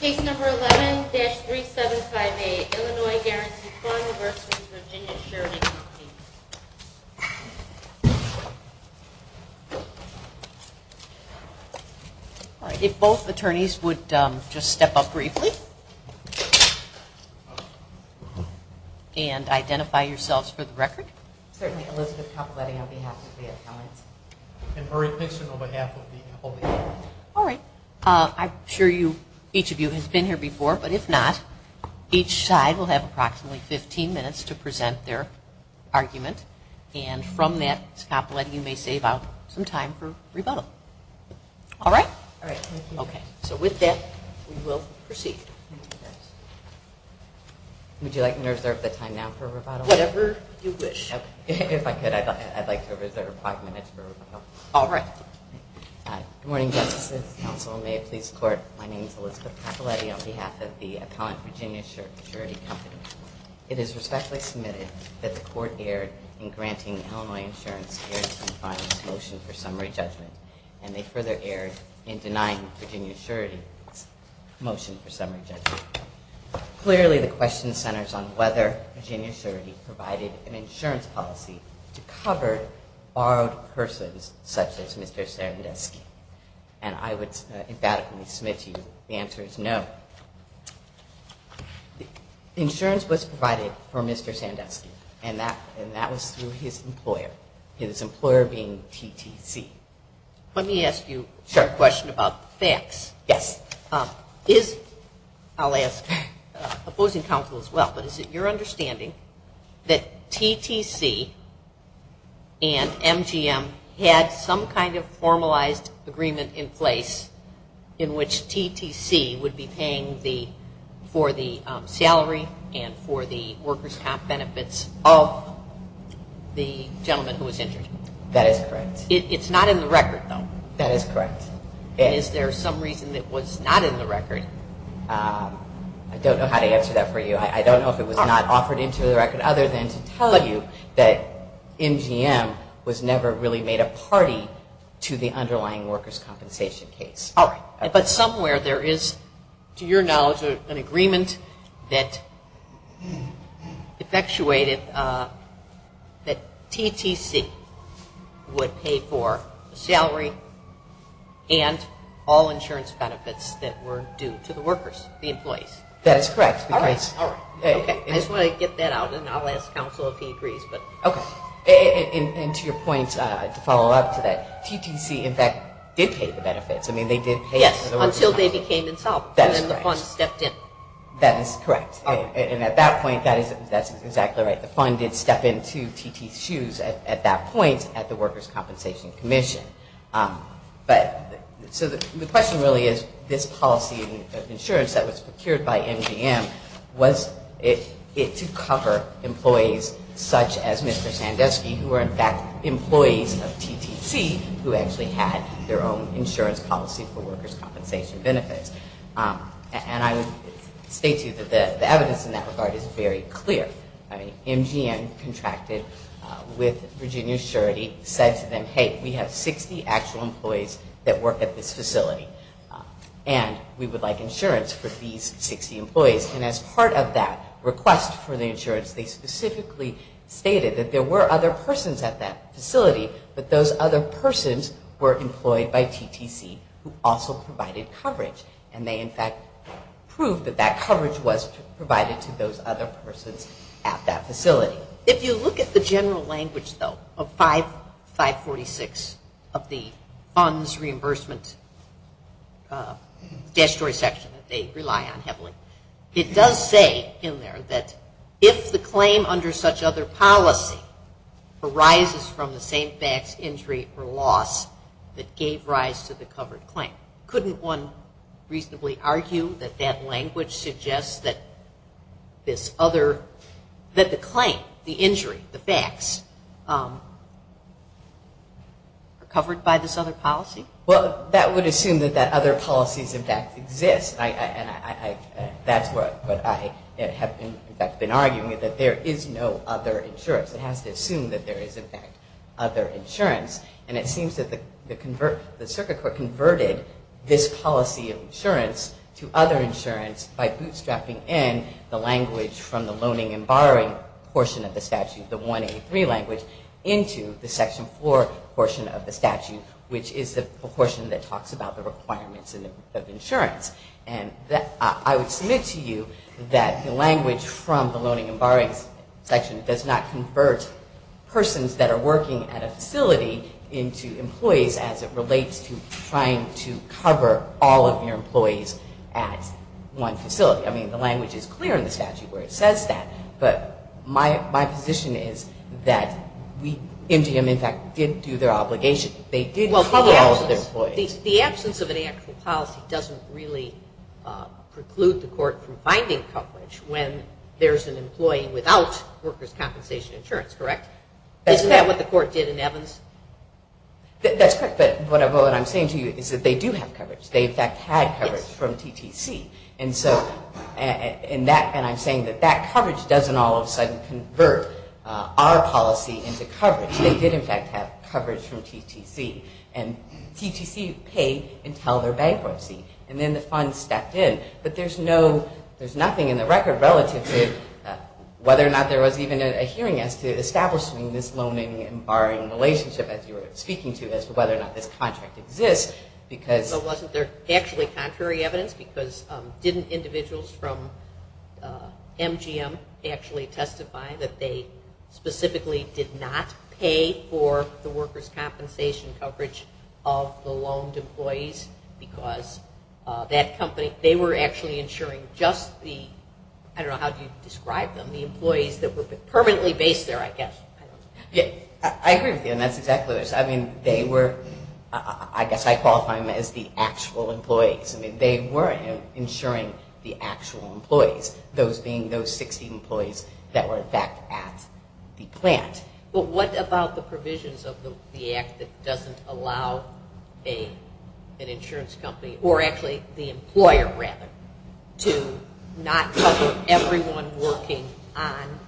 Case No. 11-3758, Illinois Guaranty Fund v. Virginia Surety Company If both attorneys would just step up briefly and identify yourselves for the record. Certainly, Elizabeth Capoletti on behalf of the Attorneys. And Murray Pixon on behalf of the Attorneys. All right. I'm sure each of you has been here before, but if not, each side will have approximately 15 minutes to present their argument. And from that, Capoletti, you may save out some time for rebuttal. All right? All right. Thank you. Okay. So with that, we will proceed. Would you like me to reserve the time now for rebuttal? Whatever you wish. If I could, I'd like to reserve five minutes for rebuttal. All right. Good morning, Justices, Counsel, and may it please the Court. My name is Elizabeth Capoletti on behalf of the Appellant Virginia Surety Company. It is respectfully submitted that the Court erred in granting Illinois Insurance Guaranty Fund's motion for summary judgment. And they further erred in denying Virginia Surety's motion for summary judgment. Clearly, the question centers on whether Virginia Surety provided an insurance policy to cover borrowed persons such as Mr. Sandusky. And I would emphatically submit to you the answer is no. Insurance was provided for Mr. Sandusky, and that was through his employer, his employer being TTC. Let me ask you a question about the facts. Yes. Is, I'll ask opposing counsel as well, but is it your understanding that TTC and MGM had some kind of formalized agreement in place in which TTC would be paying for the salary and for the workers' comp benefits of the gentleman who was injured? That is correct. It's not in the record, though. That is correct. And is there some reason that was not in the record? I don't know how to answer that for you. I don't know if it was not offered into the record other than to tell you that MGM was never really made a party to the underlying workers' compensation case. All right. But somewhere there is, to your knowledge, an agreement that effectuated that TTC would pay for the salary and all insurance benefits that were due to the workers, the employees. That is correct. All right. I just want to get that out, and I'll ask counsel if he agrees. Okay. And to your point, to follow up to that, TTC, in fact, did pay the benefits. I mean, they did pay for the workers' comp. Yes, until they became insolvent. That is correct. And then the fund stepped in. That is correct. And at that point, that is exactly right. The fund did step into TTC's shoes at that point at the Workers' Compensation Commission. But so the question really is, this policy of insurance that was procured by MGM, was it to cover employees such as Mr. Sandusky, who are, in fact, employees of TTC, who actually had their own insurance policy for workers' compensation benefits? And I would state to you that the evidence in that regard is very clear. I mean, MGM contracted with Virginia Surety, said to them, hey, we have 60 actual employees that work at this facility, and we would like insurance for these 60 employees. And as part of that request for the insurance, they specifically stated that there were other persons at that facility, but those other persons were employed by TTC, who also provided coverage. And they, in fact, proved that that coverage was provided to those other persons at that facility. But if you look at the general language, though, of 546 of the funds reimbursement statutory section that they rely on heavily, it does say in there that if the claim under such other policy arises from the same facts, injury, or loss that gave rise to the covered claim, couldn't one reasonably argue that that language suggests that the claim, the injury, the facts, are covered by this other policy? Well, that would assume that other policies, in fact, exist. And that's what I have been arguing, that there is no other insurance. It has to assume that there is, in fact, other insurance. And it seems that the circuit court converted this policy of insurance to other insurance by bootstrapping in the language from the loaning and borrowing portion of the statute, the 1A3 language, into the section 4 portion of the statute, which is the portion that talks about the requirements of insurance. And I would submit to you that the language from the loaning and borrowing section does not convert persons that are working at a facility into employees as it relates to trying to cover all of your employees at one facility. I mean, the language is clear in the statute where it says that. But my position is that MGM, in fact, did do their obligation. They did cover all of their employees. The absence of an actual policy doesn't really preclude the court from finding coverage when there is an employee without workers' compensation insurance, correct? Isn't that what the court did in Evans? That's correct. But what I'm saying to you is that they do have coverage. They, in fact, had coverage from TTC. And I'm saying that that coverage doesn't all of a sudden convert our policy into coverage. They did, in fact, have coverage from TTC. And TTC paid until their bankruptcy. And then the funds stepped in. But there's nothing in the record relative to whether or not there was even a hearing as to establishing this loaning and borrowing relationship, as you were speaking to, as to whether or not this contract exists. So wasn't there actually contrary evidence? Because didn't individuals from MGM actually testify that they specifically did not pay for the workers' compensation coverage of the loaned employees? Because that company, they were actually insuring just the, I don't know, how do you describe them, the employees that were permanently based there, I guess. I agree with you. And that's exactly this. I mean, they were, I guess I qualify them as the actual employees. I mean, they were insuring the actual employees, those being those 60 employees that were, in fact, at the plant. Yes. But what about the provisions of the act that doesn't allow an insurance company, or actually the employer rather, to not cover everyone working on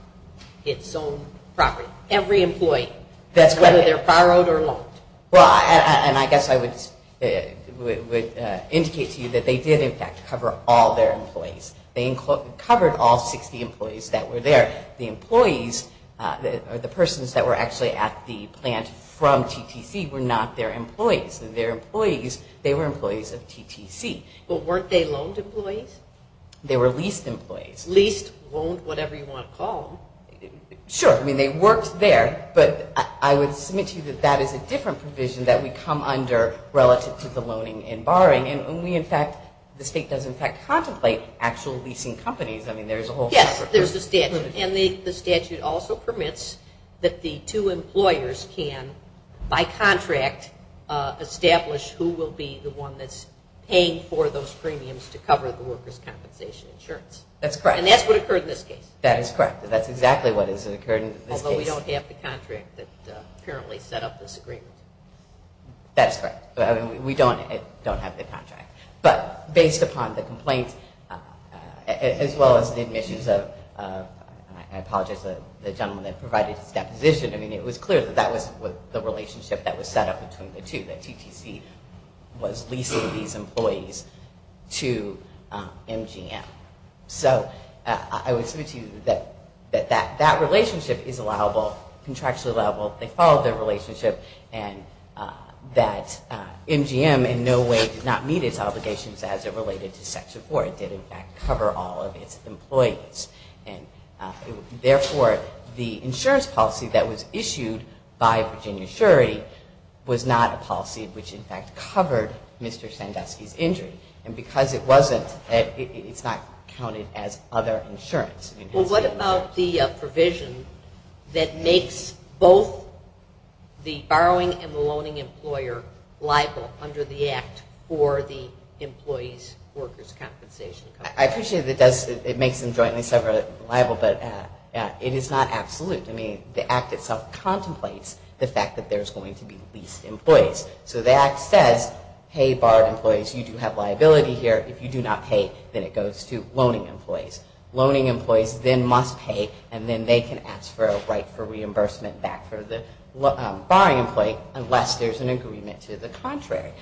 its own property, every employee, whether they're borrowed or loaned? Well, and I guess I would indicate to you that they did, in fact, cover all their employees. They covered all 60 employees that were there. The employees, or the persons that were actually at the plant from TTC were not their employees. Their employees, they were employees of TTC. But weren't they loaned employees? They were leased employees. Leased, loaned, whatever you want to call them. Sure. I mean, they worked there. But I would submit to you that that is a different provision that we come under relative to the loaning and borrowing. And we, in fact, the state does, in fact, contemplate actual leasing companies. I mean, there is a whole statute. Yes, there's a statute. And the statute also permits that the two employers can, by contract, establish who will be the one that's paying for those premiums to cover the workers' compensation insurance. That's correct. And that's what occurred in this case. That is correct. That's exactly what has occurred in this case. Although we don't have the contract that apparently set up this agreement. That is correct. We don't have the contract. But based upon the complaint, as well as the admissions of, I apologize, the gentleman that provided his deposition, I mean, it was clear that that was the relationship that was set up between the two, that TTC was leasing these employees to MGM. So I would submit to you that that relationship is allowable, contractually allowable. They followed their relationship, and that MGM in no way did not meet its obligations as it related to Section 4. It did, in fact, cover all of its employees. And, therefore, the insurance policy that was issued by Virginia Surrey was not a policy which, in fact, covered Mr. Sandusky's injury. And because it wasn't, it's not counted as other insurance. Well, what about the provision that makes both the borrowing and the loaning employer liable under the Act for the employees' workers' compensation? I appreciate that it makes them jointly separate and liable, but it is not absolute. I mean, the Act itself contemplates the fact that there's going to be leased employees. So the Act says, hey, borrowed employees, you do have liability here. If you do not pay, then it goes to loaning employees. Loaning employees then must pay, and then they can ask for a right for reimbursement back for the borrowing employee unless there's an agreement to the contrary.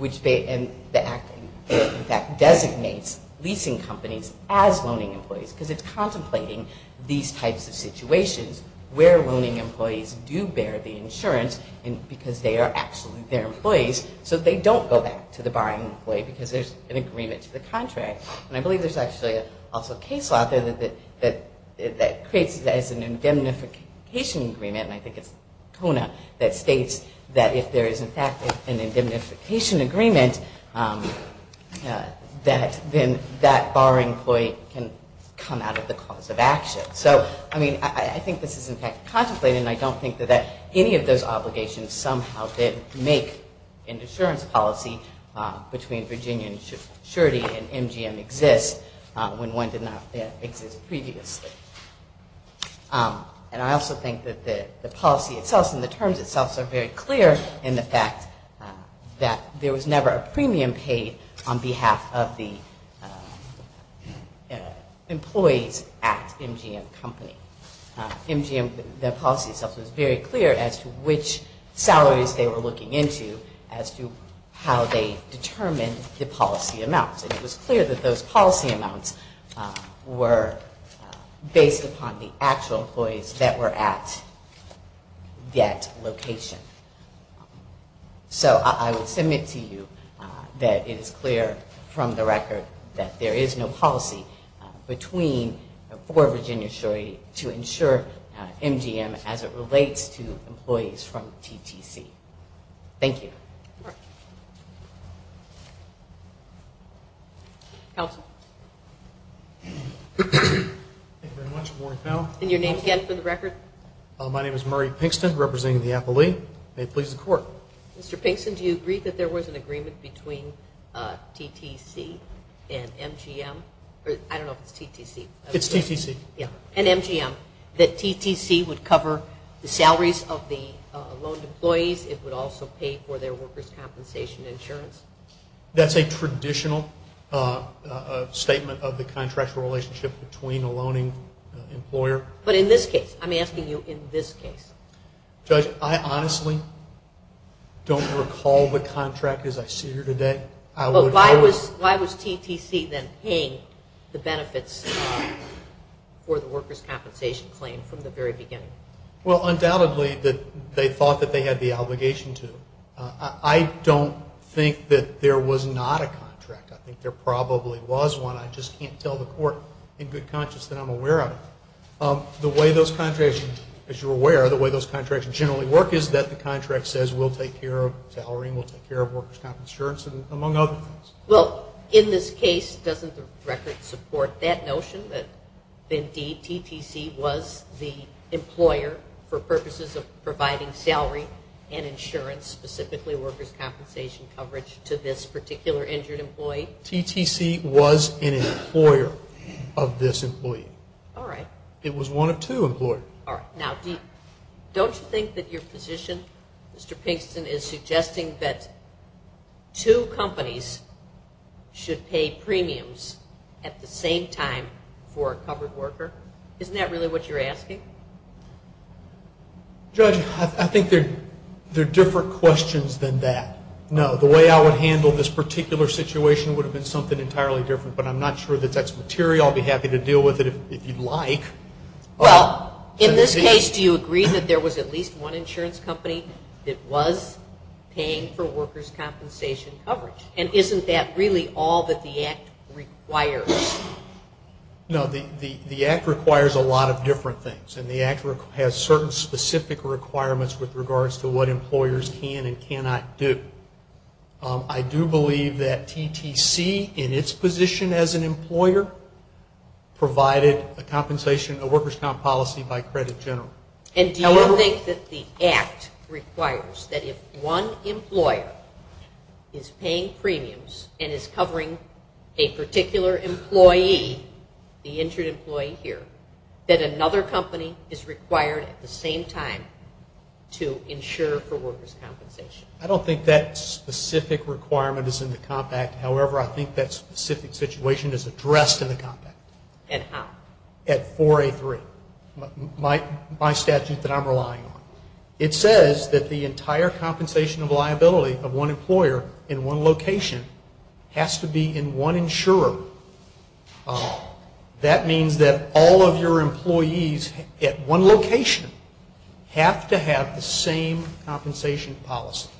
And the Act, in fact, designates leasing companies as loaning employees because it's contemplating these types of situations where loaning employees do bear the insurance because they are actually their employees so that they don't go back to the borrowing employee because there's an agreement to the contrary. And I believe there's actually also a case law out there that creates an indemnification agreement, and I think it's Kona, that states that if there is, in fact, an indemnification agreement, then that borrowing employee can come out of the cause of action. So, I mean, I think this is, in fact, contemplated, and I don't think that any of those obligations somehow did make an insurance policy between Virginia and Surety and MGM exist when one did not exist previously. And I also think that the policy itself and the terms itself are very clear in the fact that there was never a premium paid on behalf of the employees at MGM Company. MGM, the policy itself was very clear as to which salaries they were looking into as to how they determined the policy amounts. It was clear that those policy amounts were based upon the actual employees that were at that location. So I would submit to you that it is clear from the record that there is no policy between, for Virginia Surety to insure MGM as it relates to employees from TTC. Thank you. All right. Counsel? Thank you very much, Warren Powell. And your name again for the record? My name is Murray Pinkston, representing the appellee. May it please the Court. Mr. Pinkston, do you agree that there was an agreement between TTC and MGM? I don't know if it's TTC. It's TTC. Yeah, and MGM, that TTC would cover the salaries of the loaned employees. It would also pay for their workers' compensation insurance. That's a traditional statement of the contractual relationship between a loaning employer. But in this case, I'm asking you in this case. Judge, I honestly don't recall the contract as I see her today. Why was TTC then paying the benefits for the workers' compensation claim from the very beginning? Well, undoubtedly, they thought that they had the obligation to. I don't think that there was not a contract. I think there probably was one. I just can't tell the Court in good conscience that I'm aware of it. The way those contracts, as you're aware, the way those contracts generally work is that the contract says we'll take care of salary and we'll take care of workers' compensation insurance, among other things. Well, in this case, doesn't the record support that notion that, indeed, TTC was the employer for purposes of providing salary and insurance, specifically workers' compensation coverage, to this particular injured employee? TTC was an employer of this employee. All right. It was one of two employers. All right. Now, don't you think that your position, Mr. Pinkston, is suggesting that two companies should pay premiums at the same time for a covered worker? Isn't that really what you're asking? Judge, I think they're different questions than that. No, the way I would handle this particular situation would have been something entirely different, but I'm not sure that that's material. I'll be happy to deal with it if you'd like. Well, in this case, do you agree that there was at least one insurance company that was paying for workers' compensation coverage? And isn't that really all that the Act requires? No, the Act requires a lot of different things, and the Act has certain specific requirements with regards to what employers can and cannot do. I do believe that TTC, in its position as an employer, provided a workers' comp policy by credit general. And do you think that the Act requires that if one employer is paying premiums and is covering a particular employee, the injured employee here, that another company is required at the same time to insure for workers' compensation? I don't think that specific requirement is in the compact. However, I think that specific situation is addressed in the compact. And how? At 4A3, my statute that I'm relying on. It says that the entire compensation of liability of one employer in one location has to be in one insurer. That means that all of your employees at one location have to have the same compensation policy.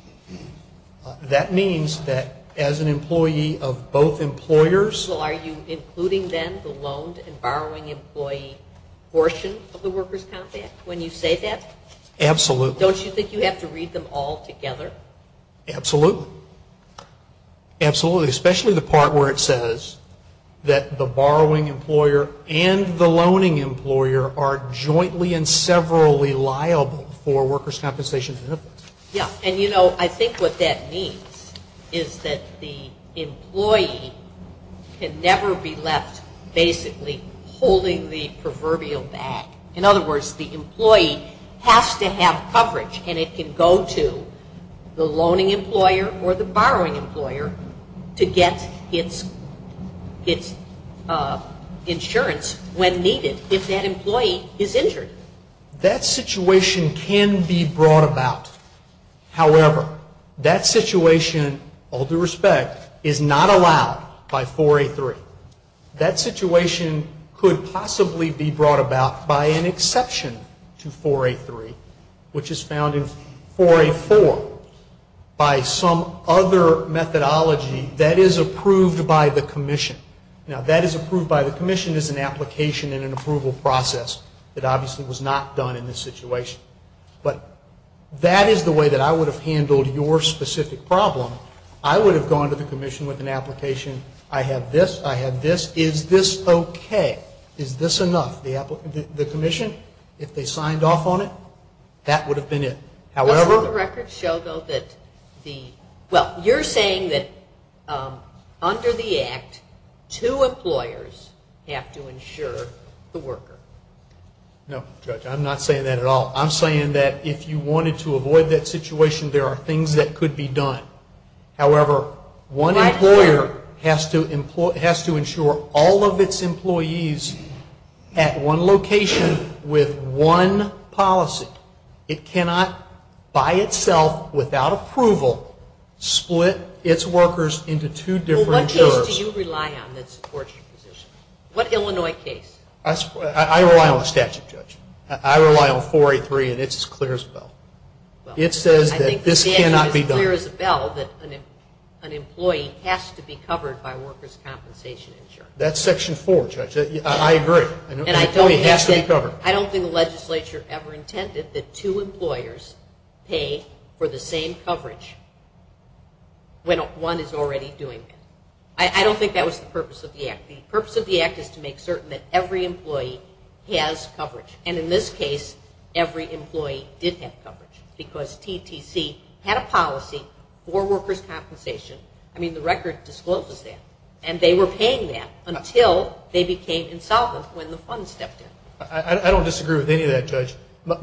That means that as an employee of both employers. Well, are you including then the loaned and borrowing employee portion of the workers' compact when you say that? Absolutely. Don't you think you have to read them all together? Absolutely. Absolutely. Especially the part where it says that the borrowing employer and the loaning employer are jointly and severally liable for workers' compensation benefits. Yes. And, you know, I think what that means is that the employee can never be left basically holding the proverbial bag. In other words, the employee has to have coverage, and it can go to the loaning employer or the borrowing employer to get its insurance when needed if that employee is injured. That situation can be brought about. However, that situation, all due respect, is not allowed by 4A3. That situation could possibly be brought about by an exception to 4A3, which is found in 4A4 by some other methodology that is approved by the commission. Now, that is approved by the commission as an application and an approval process. It obviously was not done in this situation. But that is the way that I would have handled your specific problem. I would have gone to the commission with an application. I have this. I have this. Is this okay? Is this enough? The commission, if they signed off on it, that would have been it. Does the record show, though, that the – well, you're saying that under the Act, two employers have to insure the worker. No, Judge, I'm not saying that at all. I'm saying that if you wanted to avoid that situation, there are things that could be done. However, one employer has to insure all of its employees at one location with one policy. It cannot, by itself, without approval, split its workers into two different jurors. Well, what case do you rely on that supports your position? What Illinois case? I rely on the statute, Judge. I rely on 4A3, and it's as clear as a bell. It says that this cannot be done. I think the statute is as clear as a bell, that an employee has to be covered by workers' compensation insurance. That's Section 4, Judge. I agree. An employee has to be covered. I don't think the legislature ever intended that two employers pay for the same coverage when one is already doing it. I don't think that was the purpose of the Act. The purpose of the Act is to make certain that every employee has coverage. And in this case, every employee did have coverage because TTC had a policy for workers' compensation. I mean, the record discloses that. And they were paying that until they became insolvent when the funds stepped in. I don't disagree with any of that, Judge. What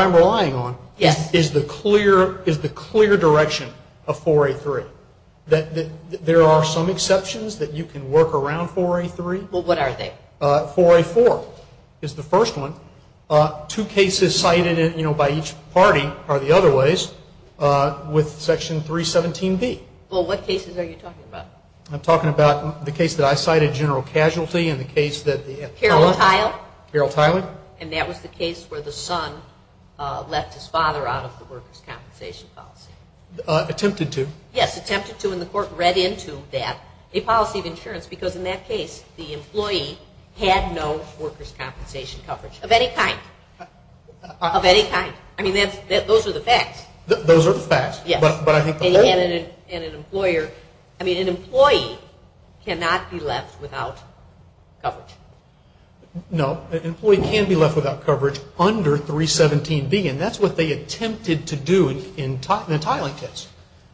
I'm relying on is the clear direction of 4A3. There are some exceptions that you can work around 4A3. Well, what are they? 4A4. 4A4 is the first one. Two cases cited, you know, by each party are the other ways, with Section 317B. Well, what cases are you talking about? I'm talking about the case that I cited, general casualty, and the case that the appellant. Carole Tiley. Carole Tiley. And that was the case where the son left his father out of the workers' compensation policy. Attempted to. Yes, attempted to. into that, a policy of insurance, because in that case the employee had no workers' compensation coverage of any kind. Of any kind. I mean, those are the facts. Those are the facts. Yes. But I think the fact is. They had an employer. I mean, an employee cannot be left without coverage. No, an employee can be left without coverage under 317B. And that's what they attempted to do in the Tiley case.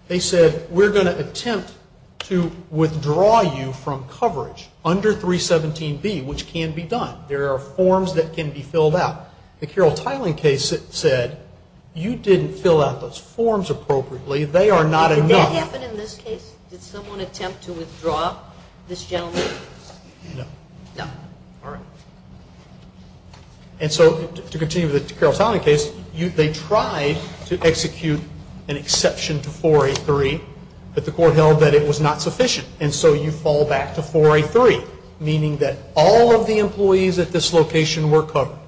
They said, we're going to attempt to withdraw you from coverage under 317B, which can be done. There are forms that can be filled out. The Carole Tiley case said, you didn't fill out those forms appropriately. They are not enough. Did that happen in this case? Did someone attempt to withdraw this gentleman? No. No. All right. And so to continue with the Carole Tiley case, they tried to execute an exception to 4A3, but the court held that it was not sufficient. And so you fall back to 4A3, meaning that all of the employees at this location were covered.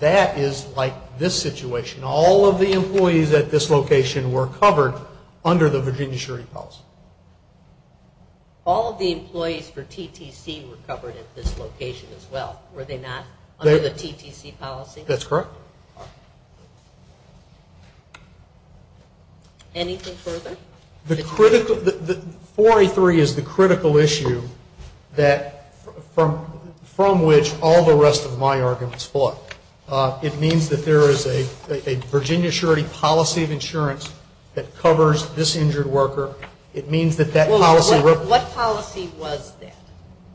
That is like this situation. All of the employees at this location were covered under the Virginia surety policy. All of the employees for TTC were covered at this location as well. Were they not under the TTC policy? That's correct. Anything further? 4A3 is the critical issue from which all the rest of my arguments flow. It means that there is a Virginia surety policy of insurance that covers this injured worker. What policy was that?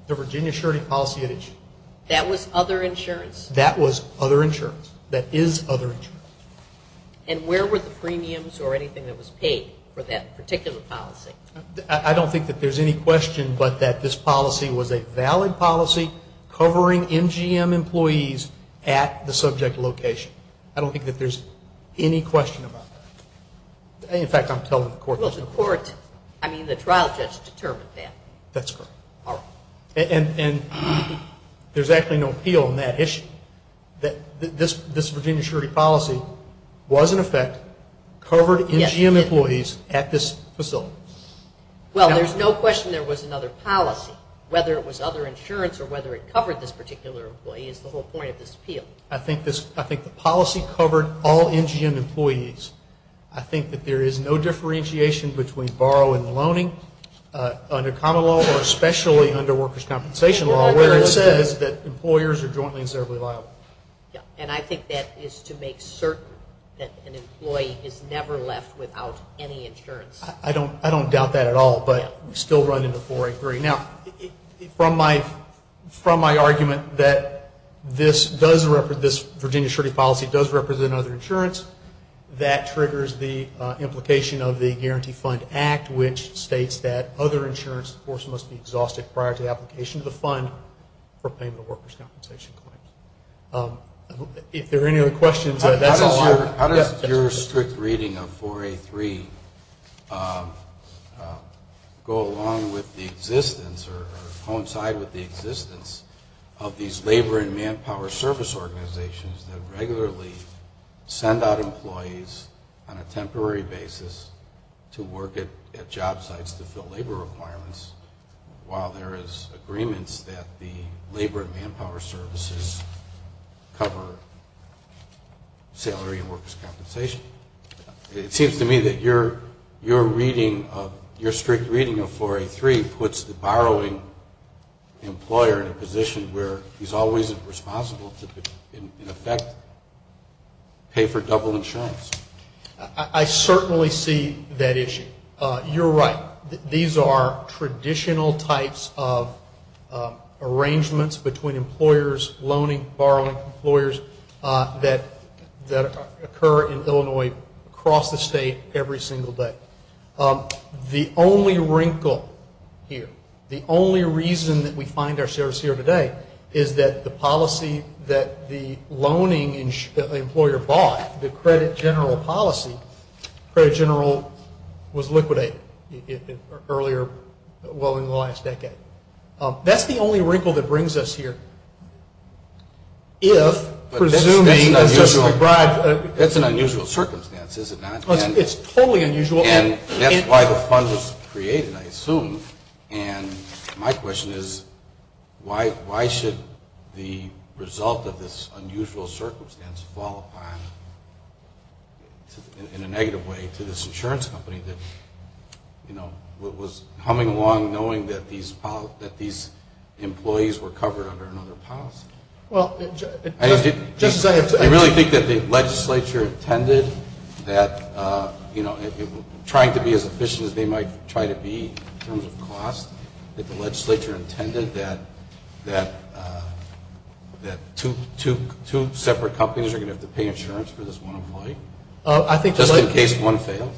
The Virginia surety policy at issue. That was other insurance? That was other insurance. That is other insurance. And where were the premiums or anything that was paid for that particular policy? I don't think that there is any question but that this policy was a valid policy covering MGM employees at the subject location. I don't think that there is any question about that. In fact, I'm telling the court. Well, the court, I mean the trial judge determined that. That's correct. All right. And there's actually no appeal on that issue. This Virginia surety policy was, in effect, covered MGM employees at this facility. Well, there's no question there was another policy, whether it was other insurance or whether it covered this particular employee is the whole point of this appeal. I think the policy covered all MGM employees. I think that there is no differentiation between borrow and the loaning. Under common law or especially under workers' compensation law, where it says that employers are jointly and severally liable. And I think that is to make certain that an employee is never left without any insurance. I don't doubt that at all, but we still run into 483. Now, from my argument that this Virginia surety policy does represent other insurance, that triggers the implication of the Guarantee Fund Act, which states that other insurance must be exhausted prior to the application of the fund for payment of workers' compensation claims. If there are any other questions, that's all I have. How does your strict reading of 483 go along with the existence or coincide with the existence of these labor and manpower service organizations that regularly send out employees on a temporary basis to work at job sites to fill labor requirements while there is agreements that the labor and manpower services cover salary and workers' compensation? It seems to me that your reading of, your strict reading of 483 puts the borrowing employer in a position where he's always responsible to, in effect, pay for double insurance. I certainly see that issue. You're right. These are traditional types of arrangements between employers, loaning, borrowing employers, that occur in Illinois across the state every single day. The only wrinkle here, the only reason that we find ourselves here today, is that the policy that the loaning employer bought, the credit general policy, credit general was liquidated earlier, well in the last decade. That's the only wrinkle that brings us here. If, presuming, That's an unusual circumstance, is it not? It's totally unusual. And that's why the fund was created, I assume. And my question is, why should the result of this unusual circumstance fall upon, in a negative way, to this insurance company that, you know, was humming along knowing that these employees were covered under another policy? I really think that the legislature intended that, you know, trying to be as efficient as they might try to be in terms of cost, that the legislature intended that two separate companies are going to have to pay insurance for this one employee, just in case one fails.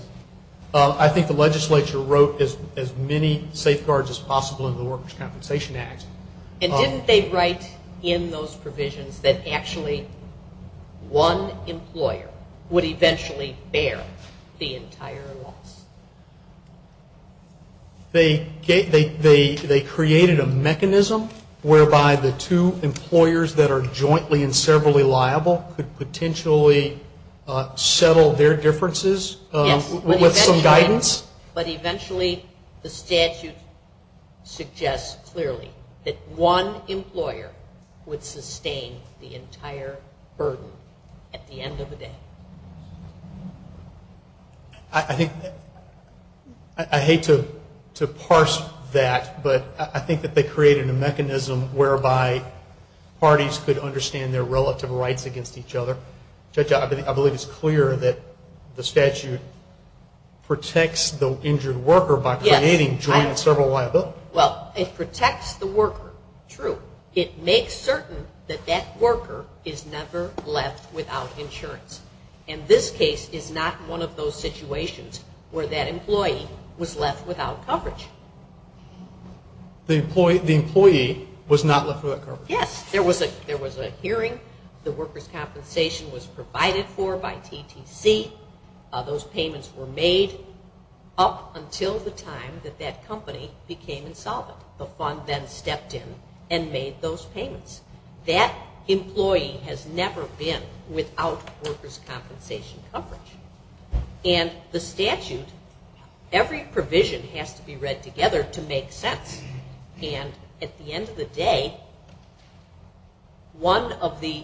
I think the legislature wrote as many safeguards as possible in the Workers' Compensation Act. And didn't they write in those provisions that actually one employer would eventually bear the entire loss? They created a mechanism whereby the two employers that are jointly and severally liable could potentially settle their differences with some guidance? But eventually the statute suggests clearly that one employer would sustain the entire burden at the end of the day. I hate to parse that, but I think that they created a mechanism whereby parties could understand their relative rights against each other. Judge, I believe it's clear that the statute protects the injured worker by creating jointly and severally liable? Well, it protects the worker. True. It makes certain that that worker is never left without insurance. And this case is not one of those situations where that employee was left without coverage. The employee was not left without coverage? Yes. There was a hearing. The workers' compensation was provided for by TTC. Those payments were made up until the time that that company became insolvent. The fund then stepped in and made those payments. That employee has never been without workers' compensation coverage. And the statute, every provision has to be read together to make sense. And at the end of the day, one of the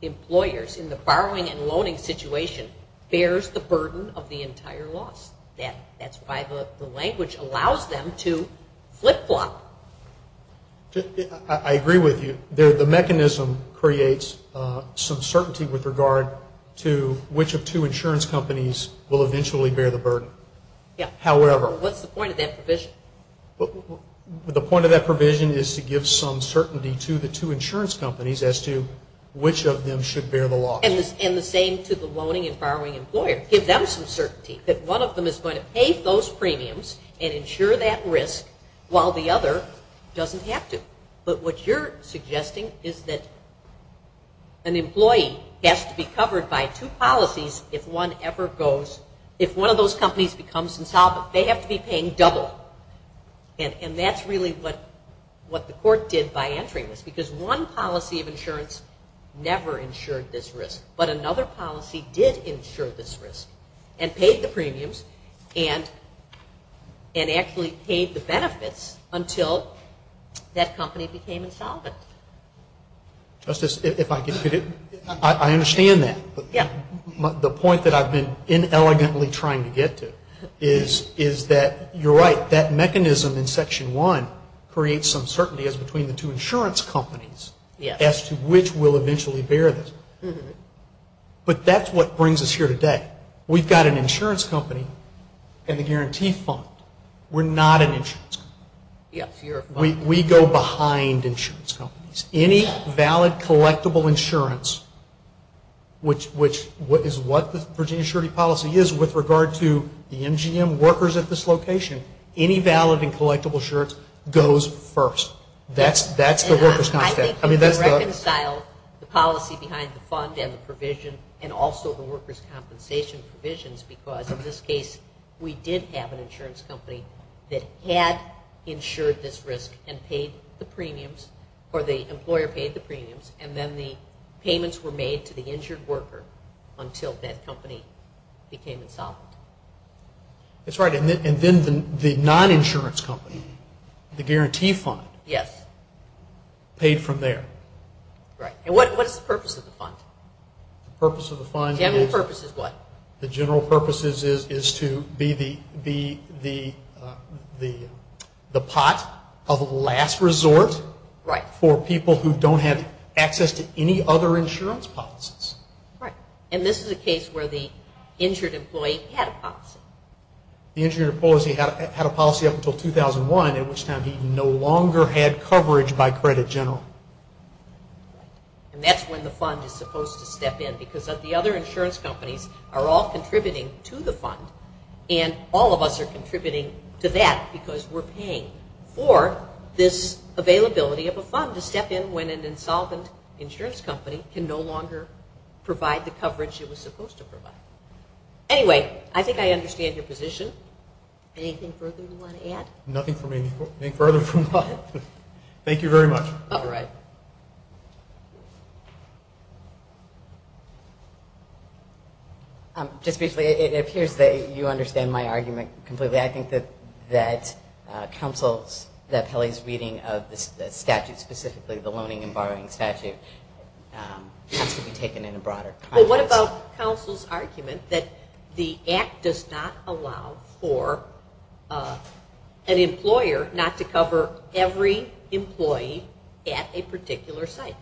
employers in the borrowing and loaning situation bears the burden of the entire loss. That's why the language allows them to flip-flop. I agree with you. The mechanism creates some certainty with regard to which of two insurance companies will eventually bear the burden. However. What's the point of that provision? The point of that provision is to give some certainty to the two insurance companies as to which of them should bear the loss. And the same to the loaning and borrowing employer. Give them some certainty that one of them is going to pay those premiums and ensure that risk while the other doesn't have to. But what you're suggesting is that an employee has to be covered by two policies if one of those companies becomes insolvent. They have to be paying double. And that's really what the court did by entering this. Because one policy of insurance never ensured this risk. But another policy did ensure this risk and paid the premiums and actually paid the benefits until that company became insolvent. Justice, if I could. I understand that. The point that I've been inelegantly trying to get to is that you're right. That mechanism in Section 1 creates some certainty as between the two insurance companies as to which will eventually bear this. But that's what brings us here today. We've got an insurance company and the guarantee fund. We're not an insurance company. We go behind insurance companies. Any valid collectible insurance, which is what the Virginia surety policy is with regard to the MGM workers at this location, any valid and collectible insurance goes first. That's the workers' concept. I mean, that's the... And I think we've reconciled the policy behind the fund and the provision and also the workers' compensation provisions because, in this case, we did have an insurance company that had ensured this risk and paid the premiums or the employer paid the premiums and then the payments were made to the injured worker until that company became insolvent. That's right. And then the non-insurance company, the guarantee fund... Yes. ...paid from there. Right. And what is the purpose of the fund? The purpose of the fund is... General purpose is what? The general purpose is to be the pot of last resort... Right. ...for people who don't have access to any other insurance policies. Right. And this is a case where the injured employee had a policy. The injured employee had a policy up until 2001, at which time he no longer had coverage by credit general. Right. And that's when the fund is supposed to step in because the other insurance companies are all contributing to the fund and all of us are contributing to that because we're paying for this availability of a fund to step in when an insolvent insurance company can no longer provide the coverage it was supposed to provide. Anyway, I think I understand your position. Anything further you want to add? Nothing for me. Anything further from that? Thank you very much. All right. Just briefly, it appears that you understand my argument completely. I think that counsel's, that Pelley's reading of the statute specifically, the Loaning and Borrowing Statute, has to be taken in a broader context. Well, what about counsel's argument that the Act does not allow for an employer not to cover every employee at a particular site?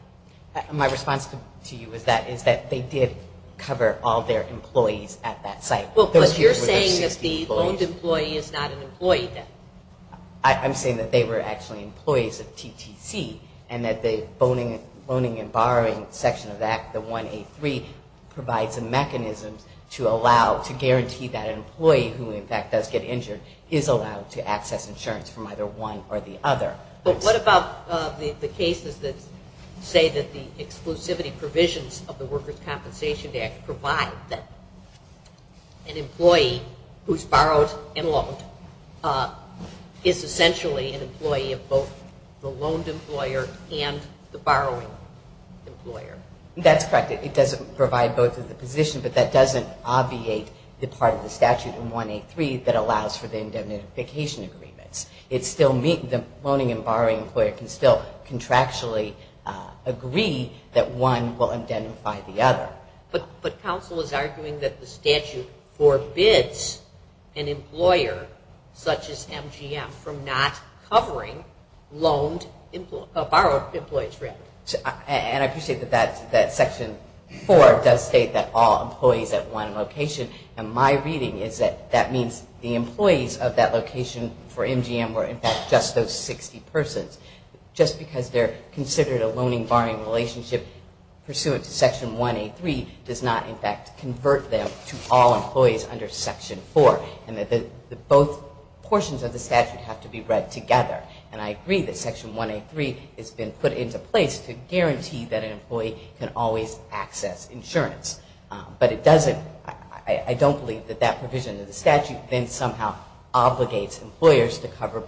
My response to you is that they did cover all their employees at that site. But you're saying that the loaned employee is not an employee then? I'm saying that they were actually employees of TTC and that the Loaning and Borrowing section of the Act, the 1A3, provides a mechanism to allow, to guarantee that an employee who in fact does get injured is allowed to access insurance from either one or the other. But what about the cases that say that the exclusivity provisions of the Workers' Compensation Act provide that an employee who's borrowed and loaned is essentially an employee of both the loaned employer and the borrowing employer? That's correct. It doesn't provide both of the positions, but that doesn't obviate the part of the statute in 1A3 that allows for the indemnification agreements. The Loaning and Borrowing employer can still contractually agree that one will indemnify the other. But counsel is arguing that the statute forbids an employer, such as MGM, from not covering loaned, borrowed employees, rather. And I appreciate that Section 4 does state that all employees at one location, and my reading is that that means the employees of that location for MGM were in fact just those 60 persons. Just because they're considered a Loaning-Borrowing relationship pursuant to Section 1A3 does not in fact convert them to all employees under Section 4, and that both portions of the statute have to be read together. And I agree that Section 1A3 has been put into place to guarantee that an employee can always access insurance. But it doesn't, I don't believe that that provision of the statute then somehow obligates employers to cover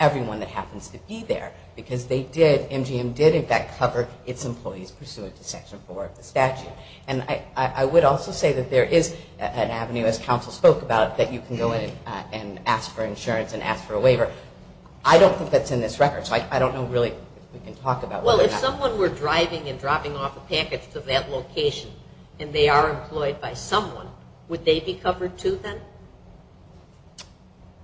everyone that happens to be there, because they did, MGM did in fact cover its employees pursuant to Section 4 of the statute. And I would also say that there is an avenue, as counsel spoke about, that you can go in and ask for insurance and ask for a waiver. I don't think that's in this record, so I don't know really if we can talk about whether or not... Well, if someone were driving and dropping off a package to that location, and they are employed by someone, would they be covered too then?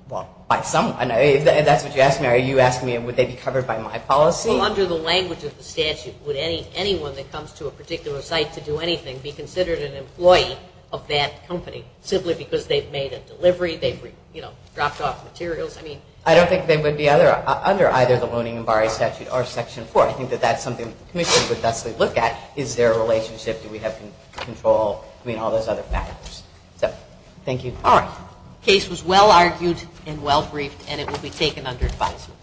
Well, by someone, if that's what you're asking, are you asking me would they be covered by my policy? Well, under the language of the statute, would anyone that comes to a particular site to do anything be considered an employee of that company, simply because they've made a delivery, they've, you know, dropped off materials? I mean... I don't think they would be under either the Loaning and Borrowing Statute or Section 4. I think that that's something the Commission would thusly look at. Is there a relationship, do we have control, I mean, all those other factors. So, thank you. All right. Case was well argued and well briefed, and it will be taken under advisement.